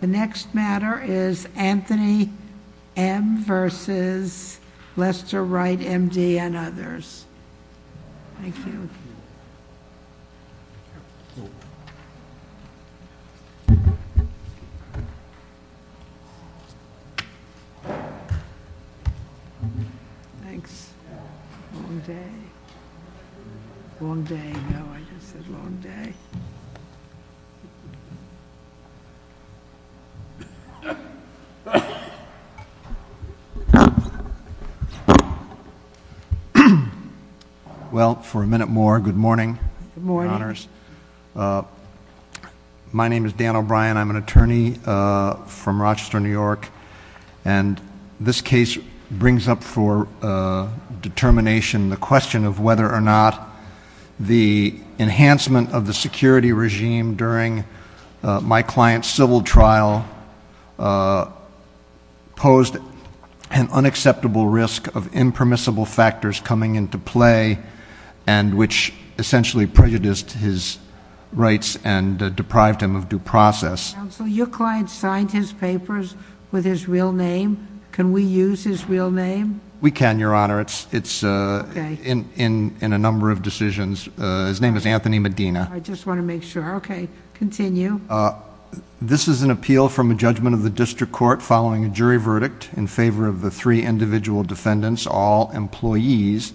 The next matter is Anthony M. v. Lester Wright, M.D. and others. Thank you. Thanks. Long day. Long day. No, I just said long day. Well, for a minute more, good morning. Good morning. My name is Dan O'Brien. I'm an attorney from Rochester, New York. And this case brings up for determination the question of whether or not the enhancement of the security regime during my client's civil trial posed an unacceptable risk of impermissible factors coming into play and which essentially prejudiced his rights and deprived him of due process. Counsel, your client signed his papers with his real name. Can we use his real name? We can, Your Honor. It's in a number of decisions. His name is Anthony Medina. I just want to make sure. Okay, continue. This is an appeal from a judgment of the district court following a jury verdict in favor of the three individual defendants, all employees,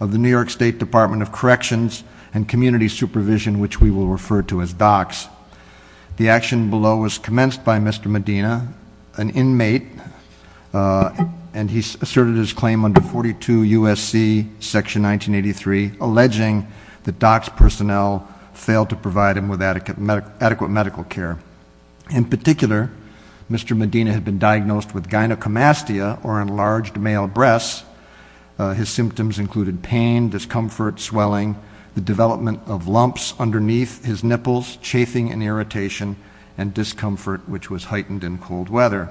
of the New York State Department of Corrections and Community Supervision, which we will refer to as DOCS. The action below was commenced by Mr. Medina, an inmate, and he asserted his claim under 42 U.S.C. Section 1983, alleging that DOCS personnel failed to provide him with adequate medical care. In particular, Mr. Medina had been diagnosed with gynecomastia, or enlarged male breasts. His symptoms included pain, discomfort, swelling, the development of lumps underneath his nipples, chafing and irritation, and discomfort, which was heightened in cold weather.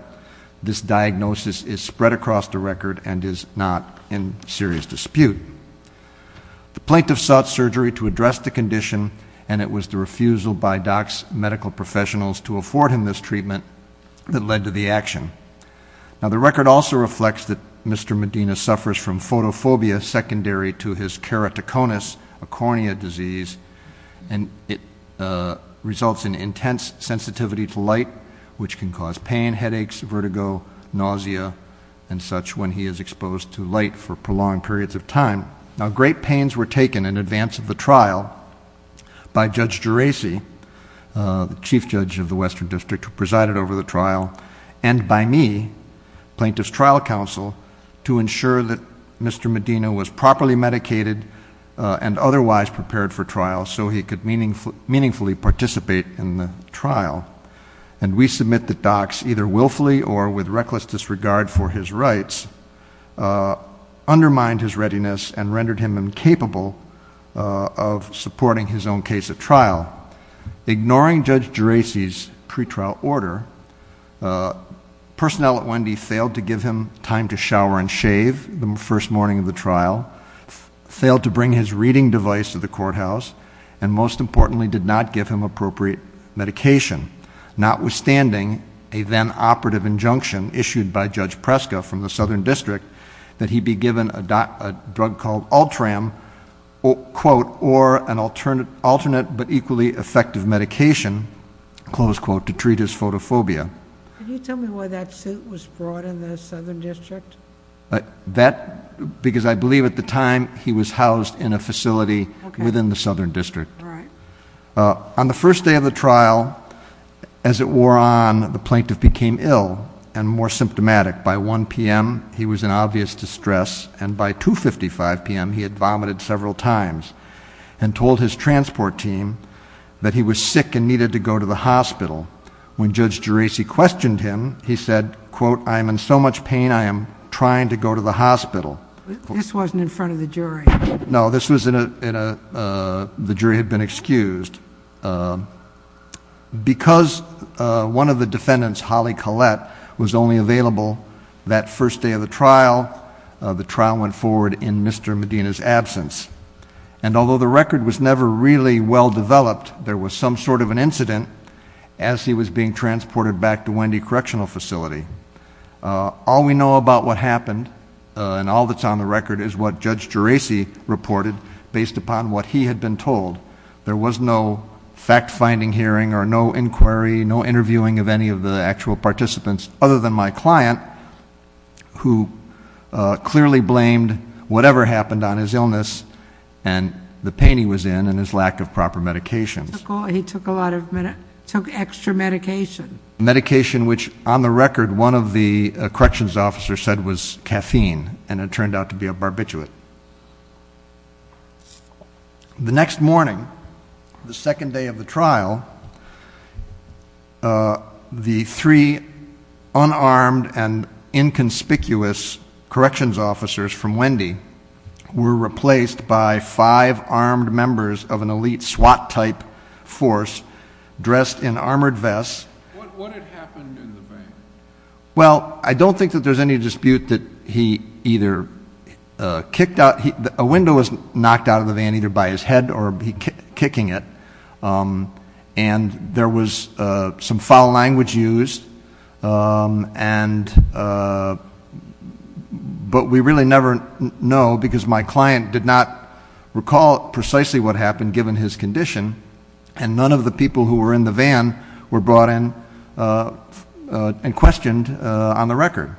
This diagnosis is spread across the record and is not in serious dispute. The plaintiff sought surgery to address the condition, and it was the refusal by DOCS medical professionals to afford him this treatment that led to the action. Now, the record also reflects that Mr. Medina suffers from photophobia, secondary to his keratoconus, a cornea disease, and it results in intense sensitivity to light, which can cause pain, headaches, vertigo, nausea, and such, when he is exposed to light for prolonged periods of time. Now, great pains were taken in advance of the trial by Judge Geraci, the chief judge of the Western District who presided over the trial, and by me, plaintiff's trial counsel, to ensure that Mr. Medina was properly medicated and otherwise prepared for trial so he could meaningfully participate in the trial. And we submit that DOCS, either willfully or with reckless disregard for his rights, undermined his readiness and rendered him incapable of supporting his own case at trial. Ignoring Judge Geraci's pretrial order, personnel at Wendy failed to give him time to shower and shave the first morning of the trial, failed to bring his reading device to the courthouse, and most importantly, did not give him appropriate medication, notwithstanding a then-operative injunction issued by Judge Preska from the Southern District that he be given a drug called Ultram, quote, or an alternate but equally effective medication, close quote, to treat his photophobia. Can you tell me why that suit was brought in the Southern District? Because I believe at the time he was housed in a facility within the Southern District. On the first day of the trial, as it wore on, the plaintiff became ill and more symptomatic. By 1 p.m. he was in obvious distress, and by 2.55 p.m. he had vomited several times and told his transport team that he was sick and needed to go to the hospital. When Judge Geraci questioned him, he said, quote, I am in so much pain I am trying to go to the hospital. This wasn't in front of the jury. No, the jury had been excused. Because one of the defendants, Holly Collette, was only available that first day of the trial, the trial went forward in Mr. Medina's absence. And although the record was never really well developed, there was some sort of an incident as he was being transported back to Wendy Correctional Facility. All we know about what happened and all that's on the record is what Judge Geraci reported based upon what he had been told. There was no fact-finding hearing or no inquiry, no interviewing of any of the actual participants other than my client, who clearly blamed whatever happened on his illness and the pain he was in and his lack of proper medications. He took extra medication. Medication which, on the record, one of the corrections officers said was caffeine and it turned out to be a barbiturate. The next morning, the second day of the trial, the three unarmed and inconspicuous corrections officers from Wendy were replaced by five armed members of an elite SWAT-type force dressed in armored vests. What had happened in the van? Well, I don't think that there's any dispute that he either kicked out, a window was knocked out of the van either by his head or kicking it, and there was some foul language used, but we really never know because my client did not recall precisely what happened given his condition and none of the people who were in the van were brought in and questioned on the record.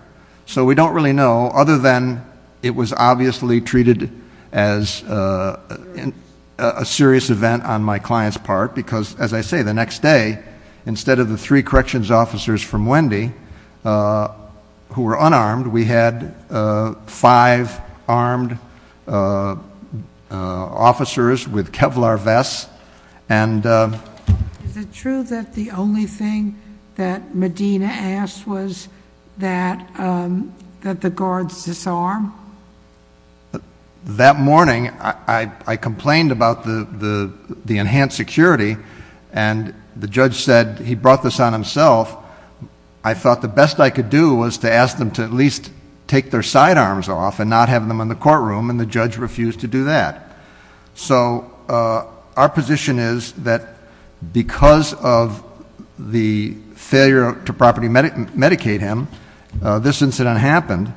So we don't really know other than it was obviously treated as a serious event on my client's part because, as I say, the next day, instead of the three corrections officers from Wendy who were unarmed, we had five armed officers with Kevlar vests. Is it true that the only thing that Medina asked was that the guards disarm? That morning, I complained about the enhanced security, and the judge said he brought this on himself. I thought the best I could do was to ask them to at least take their sidearms off and not have them in the courtroom, and the judge refused to do that. So our position is that because of the failure to properly medicate him, this incident happened,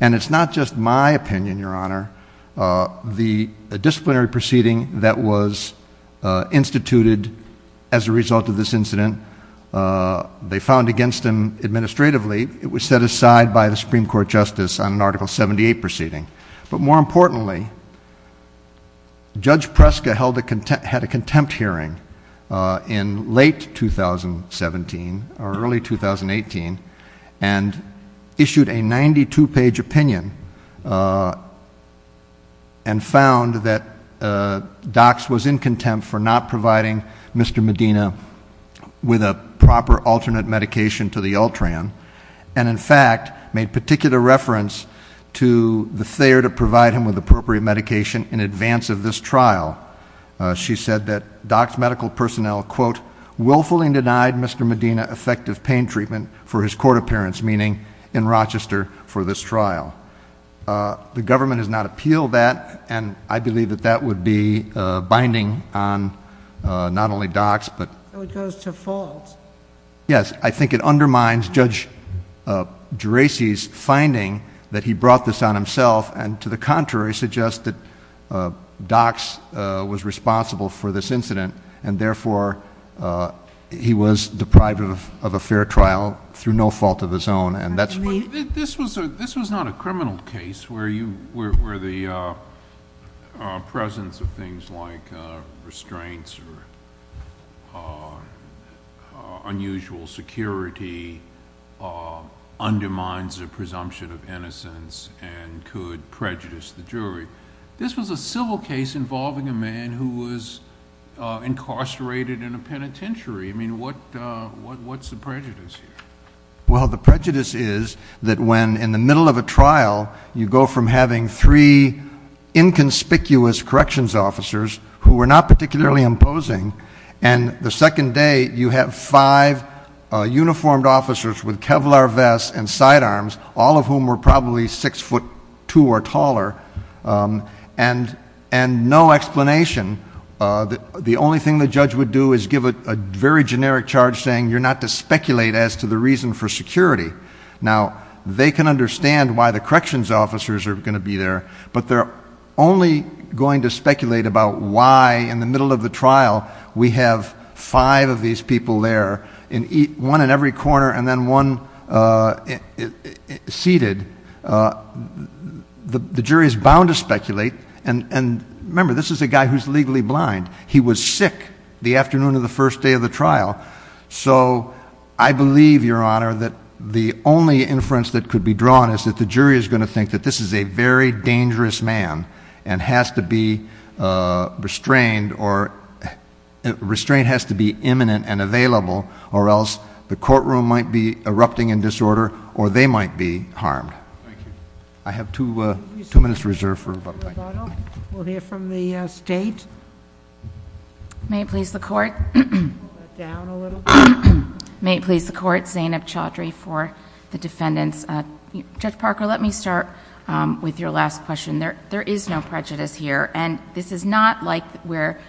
and it's not just my opinion, Your Honor. The disciplinary proceeding that was instituted as a result of this incident, they found against him administratively. It was set aside by the Supreme Court justice on an Article 78 proceeding. But more importantly, Judge Preska had a contempt hearing in late 2017 or early 2018 and issued a 92-page opinion and found that DOCS was in contempt for not providing Mr. Medina with a proper alternate medication to the Ultran, and in fact made particular reference to the failure to provide him with appropriate medication in advance of this trial. She said that DOCS medical personnel, quote, willfully denied Mr. Medina effective pain treatment for his court appearance, meaning in Rochester for this trial. The government has not appealed that, and I believe that that would be binding on not only DOCS, but... So it goes to fault? Yes. I think it undermines Judge Geraci's finding that he brought this on himself and to the contrary suggests that DOCS was responsible for this incident, and therefore he was deprived of a fair trial through no fault of his own, and that's... This was not a criminal case where the presence of things like restraints or unusual security undermines a presumption of innocence and could prejudice the jury. This was a civil case involving a man who was incarcerated in a penitentiary. I mean, what's the prejudice here? Well, the prejudice is that when in the middle of a trial, you go from having three inconspicuous corrections officers who were not particularly imposing, and the second day you have five uniformed officers with Kevlar vests and side arms, all of whom were probably six foot two or taller, and no explanation, the only thing the judge would do is give a very generic charge saying, you're not to speculate as to the reason for security. Now, they can understand why the corrections officers are going to be there, but they're only going to speculate about why in the middle of the trial we have five of these people there, one in every corner and then one seated. The jury is bound to speculate, and remember, this is a guy who's legally blind. He was sick the afternoon of the first day of the trial. So I believe, Your Honor, that the only inference that could be drawn is that the jury is going to think that this is a very dangerous man and has to be restrained or restraint has to be imminent and available, or else the courtroom might be erupting in disorder or they might be harmed. Thank you. I have two minutes reserved for rebuttal. We'll hear from the State. May it please the Court. May it please the Court. Zainab Chaudhry for the defendants. Judge Parker, let me start with your last question. There is no prejudice here, and this is not like where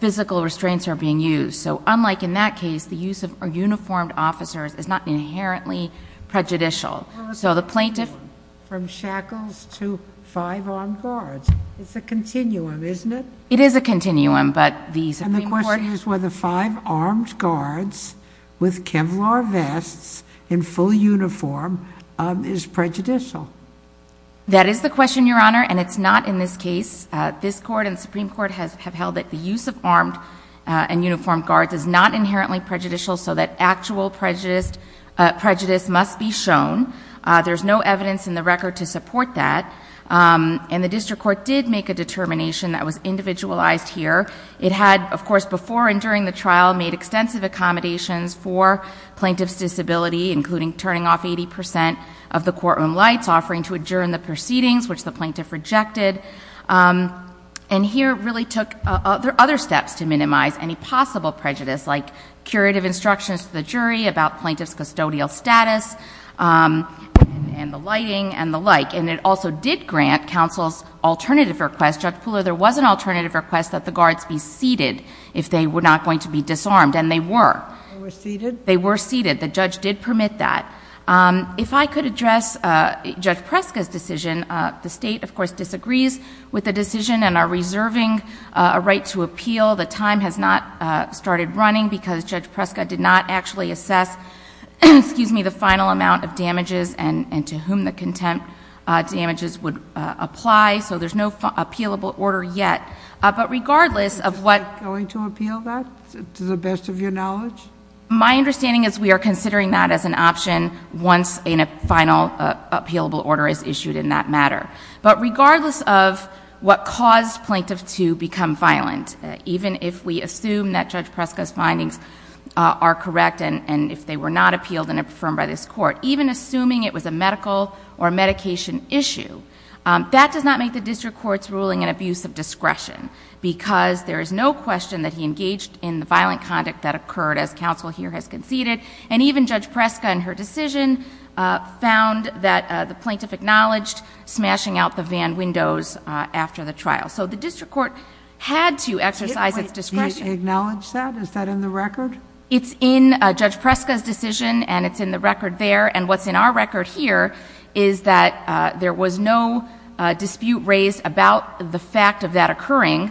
physical restraints are being used. So unlike in that case, the use of uniformed officers is not inherently prejudicial. Well, it's a continuum from shackles to five armed guards. It's a continuum, isn't it? It is a continuum, but the Supreme Court— And the question is whether five armed guards with Kevlar vests in full uniform is prejudicial. That is the question, Your Honor, and it's not in this case. This Court and the Supreme Court have held that the use of armed and uniformed guards is not inherently prejudicial so that actual prejudice must be shown. There's no evidence in the record to support that, and the District Court did make a determination that was individualized here. It had, of course, before and during the trial made extensive accommodations for plaintiff's disability, including turning off 80 percent of the courtroom lights, offering to adjourn the proceedings, which the plaintiff rejected. And here really took other steps to minimize any possible prejudice, like curative instructions to the jury about plaintiff's custodial status and the lighting and the like. And it also did grant counsel's alternative request. Judge Pooler, there was an alternative request that the guards be seated if they were not going to be disarmed, and they were. They were seated? They were seated. The judge did permit that. If I could address Judge Preska's decision. The state, of course, disagrees with the decision and are reserving a right to appeal. The time has not started running because Judge Preska did not actually assess the final amount of damages and to whom the contempt damages would apply, so there's no appealable order yet. But regardless of what— Is the state going to appeal that, to the best of your knowledge? My understanding is we are considering that as an option once a final appealable order is issued in that matter. But regardless of what caused plaintiff to become violent, even if we assume that Judge Preska's findings are correct and if they were not appealed and affirmed by this court, even assuming it was a medical or medication issue, that does not make the district court's ruling an abuse of discretion because there is no question that he engaged in the violent conduct that occurred as counsel here has conceded. And even Judge Preska, in her decision, found that the plaintiff acknowledged smashing out the van windows after the trial. So the district court had to exercise its discretion. Did it acknowledge that? Is that in the record? It's in Judge Preska's decision and it's in the record there. And what's in our record here is that there was no dispute raised about the fact of that occurring.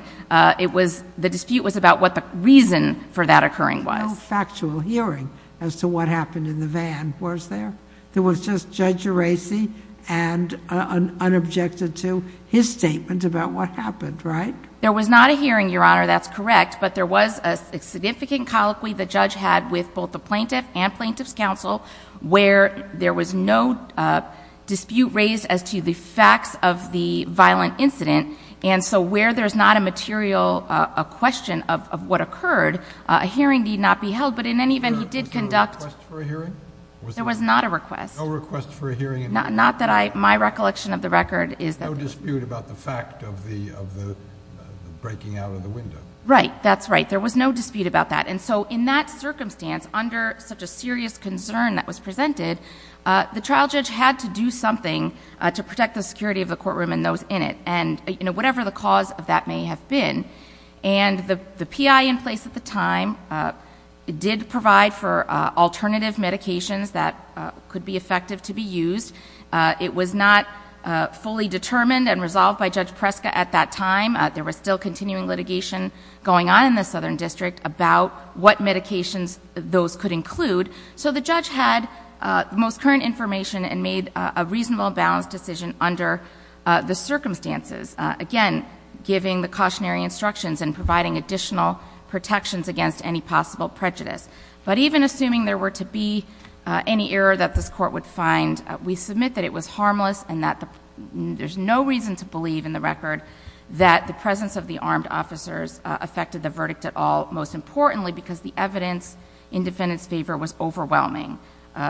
It was—the dispute was about what the reason for that occurring was. No factual hearing as to what happened in the van was there? There was just Judge Gerasi and unobjected to his statement about what happened, right? There was not a hearing, Your Honor. That's correct. But there was a significant colloquy the judge had with both the plaintiff and plaintiff's counsel where there was no dispute raised as to the facts of the violent incident. And so where there's not a material question of what occurred, a hearing need not be held. But in any event, he did conduct— Was there a request for a hearing? There was not a request. No request for a hearing. Not that I—my recollection of the record is that— No dispute about the fact of the breaking out of the window. Right. That's right. There was no dispute about that. And so in that circumstance, under such a serious concern that was presented, the trial judge had to do something to protect the security of the courtroom and those in it. And, you know, whatever the cause of that may have been. And the PI in place at the time did provide for alternative medications that could be effective to be used. It was not fully determined and resolved by Judge Preska at that time. There was still continuing litigation going on in the Southern District about what medications those could include. So the judge had the most current information and made a reasonable, balanced decision under the circumstances. Again, giving the cautionary instructions and providing additional protections against any possible prejudice. But even assuming there were to be any error that this Court would find, we submit that it was harmless and that there's no reason to believe in the record that the presence of the armed officers affected the verdict at all, most importantly because the evidence in defendant's favor was overwhelming.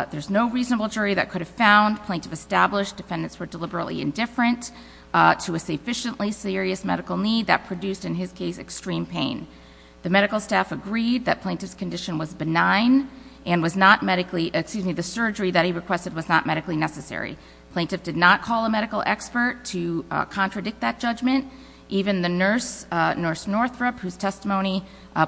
There's no reasonable jury that could have found plaintiff established defendants were deliberately indifferent to a sufficiently serious medical need that produced, in his case, extreme pain. The medical staff agreed that plaintiff's condition was benign and was not medically— Plaintiff did not call a medical expert to contradict that judgment. Even the nurse, Nurse Northrup, whose testimony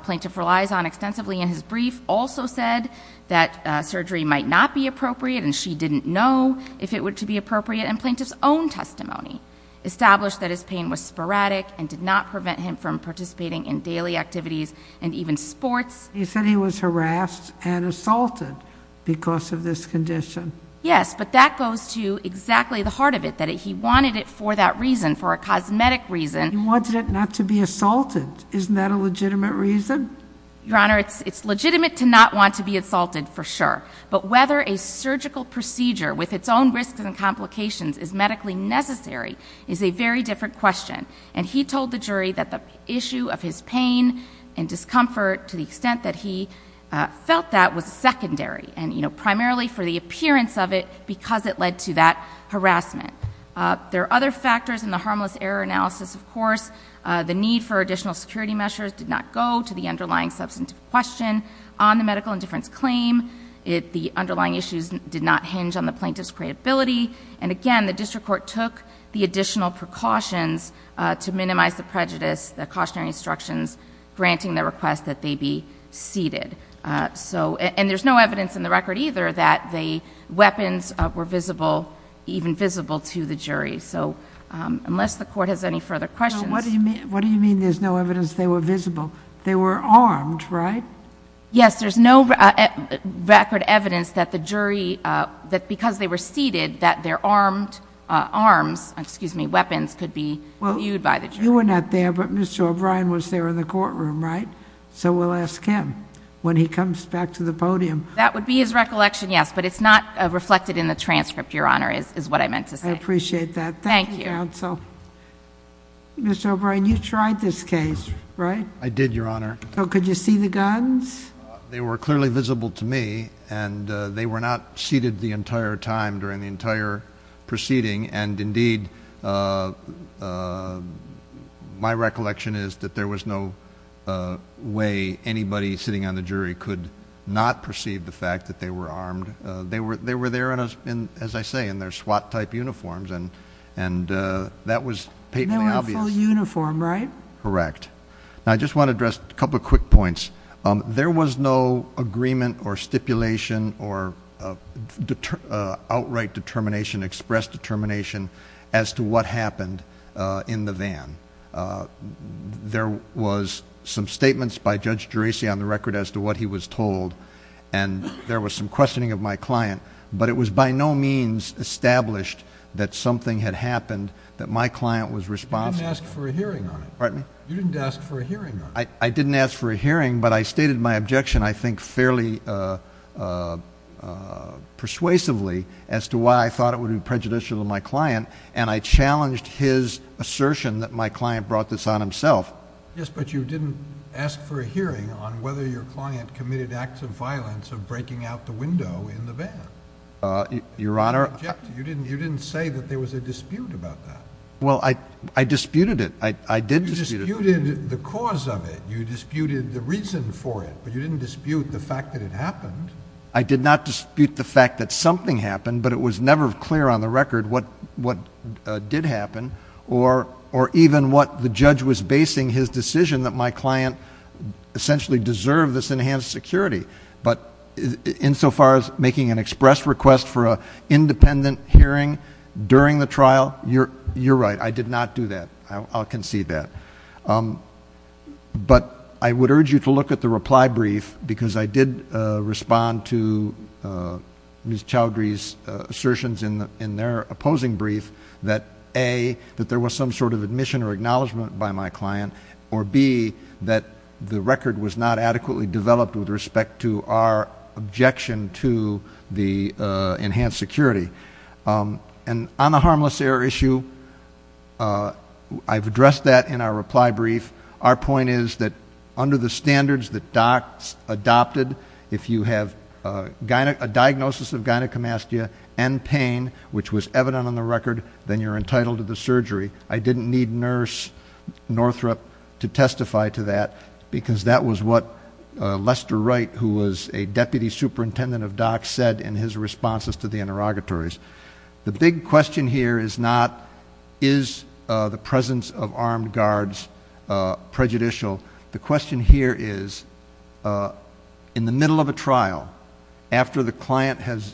plaintiff relies on extensively in his brief, also said that surgery might not be appropriate and she didn't know if it were to be appropriate. And plaintiff's own testimony established that his pain was sporadic and did not prevent him from participating in daily activities and even sports. He said he was harassed and assaulted because of this condition. Yes, but that goes to exactly the heart of it, that he wanted it for that reason, for a cosmetic reason. He wanted it not to be assaulted. Isn't that a legitimate reason? Your Honor, it's legitimate to not want to be assaulted, for sure. But whether a surgical procedure with its own risks and complications is medically necessary is a very different question. And he told the jury that the issue of his pain and discomfort to the extent that he felt that was secondary and, you know, primarily for the appearance of it because it led to that harassment. There are other factors in the harmless error analysis, of course. The need for additional security measures did not go to the underlying substantive question on the medical indifference claim. The underlying issues did not hinge on the plaintiff's credibility. And again, the district court took the additional precautions to minimize the prejudice, the cautionary instructions granting the request that they be seated. And there's no evidence in the record either that the weapons were visible, even visible to the jury. So unless the court has any further questions. What do you mean there's no evidence they were visible? They were armed, right? Yes, there's no record evidence that the jury, that because they were seated, that their armed arms, excuse me, weapons could be viewed by the jury. You were not there, but Mr. O'Brien was there in the courtroom, right? So we'll ask him when he comes back to the podium. That would be his recollection, yes. But it's not reflected in the transcript, Your Honor, is what I meant to say. I appreciate that. Thank you. Thank you, counsel. Mr. O'Brien, you tried this case, right? I did, Your Honor. So could you see the guns? They were clearly visible to me, and they were not seated the entire time during the entire proceeding. And, indeed, my recollection is that there was no way anybody sitting on the jury could not perceive the fact that they were armed. They were there, as I say, in their SWAT-type uniforms, and that was patently obvious. They were in full uniform, right? Correct. Now, I just want to address a couple of quick points. There was no agreement or stipulation or outright determination, express determination, as to what happened in the van. There was some statements by Judge Geraci on the record as to what he was told, and there was some questioning of my client. But it was by no means established that something had happened, that my client was responsible. You didn't ask for a hearing on it. Pardon me? You didn't ask for a hearing on it. I didn't ask for a hearing, but I stated my objection, I think, fairly persuasively as to why I thought it would be prejudicial to my client, and I challenged his assertion that my client brought this on himself. Yes, but you didn't ask for a hearing on whether your client committed acts of violence of breaking out the window in the van. Your Honor, I— You didn't say that there was a dispute about that. You disputed the cause of it. You disputed the reason for it, but you didn't dispute the fact that it happened. I did not dispute the fact that something happened, but it was never clear on the record what did happen or even what the judge was basing his decision that my client essentially deserved this enhanced security. But insofar as making an express request for an independent hearing during the trial, you're right, I did not do that. I'll concede that. But I would urge you to look at the reply brief because I did respond to Ms. Chowdhury's assertions in their opposing brief that, A, that there was some sort of admission or acknowledgement by my client, or B, that the record was not adequately developed with respect to our objection to the enhanced security. And on the harmless error issue, I've addressed that in our reply brief. Our point is that under the standards that docs adopted, if you have a diagnosis of gynecomastia and pain, which was evident on the record, then you're entitled to the surgery. I didn't need Nurse Northrup to testify to that because that was what Lester Wright, who was a deputy superintendent of docs, said in his responses to the interrogatories. The big question here is not, is the presence of armed guards prejudicial? The question here is, in the middle of a trial, after the client has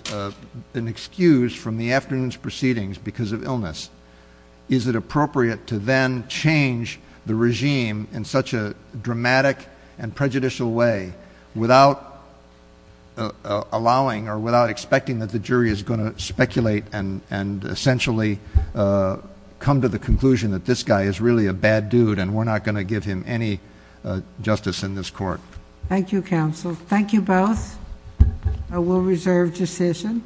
been excused from the afternoon's proceedings because of illness, is it appropriate to then change the regime in such a dramatic and prejudicial way without allowing or without expecting that the jury is going to speculate and essentially come to the conclusion that this guy is really a bad dude and we're not going to give him any justice in this court. Thank you, counsel. Thank you both. I will reserve decision.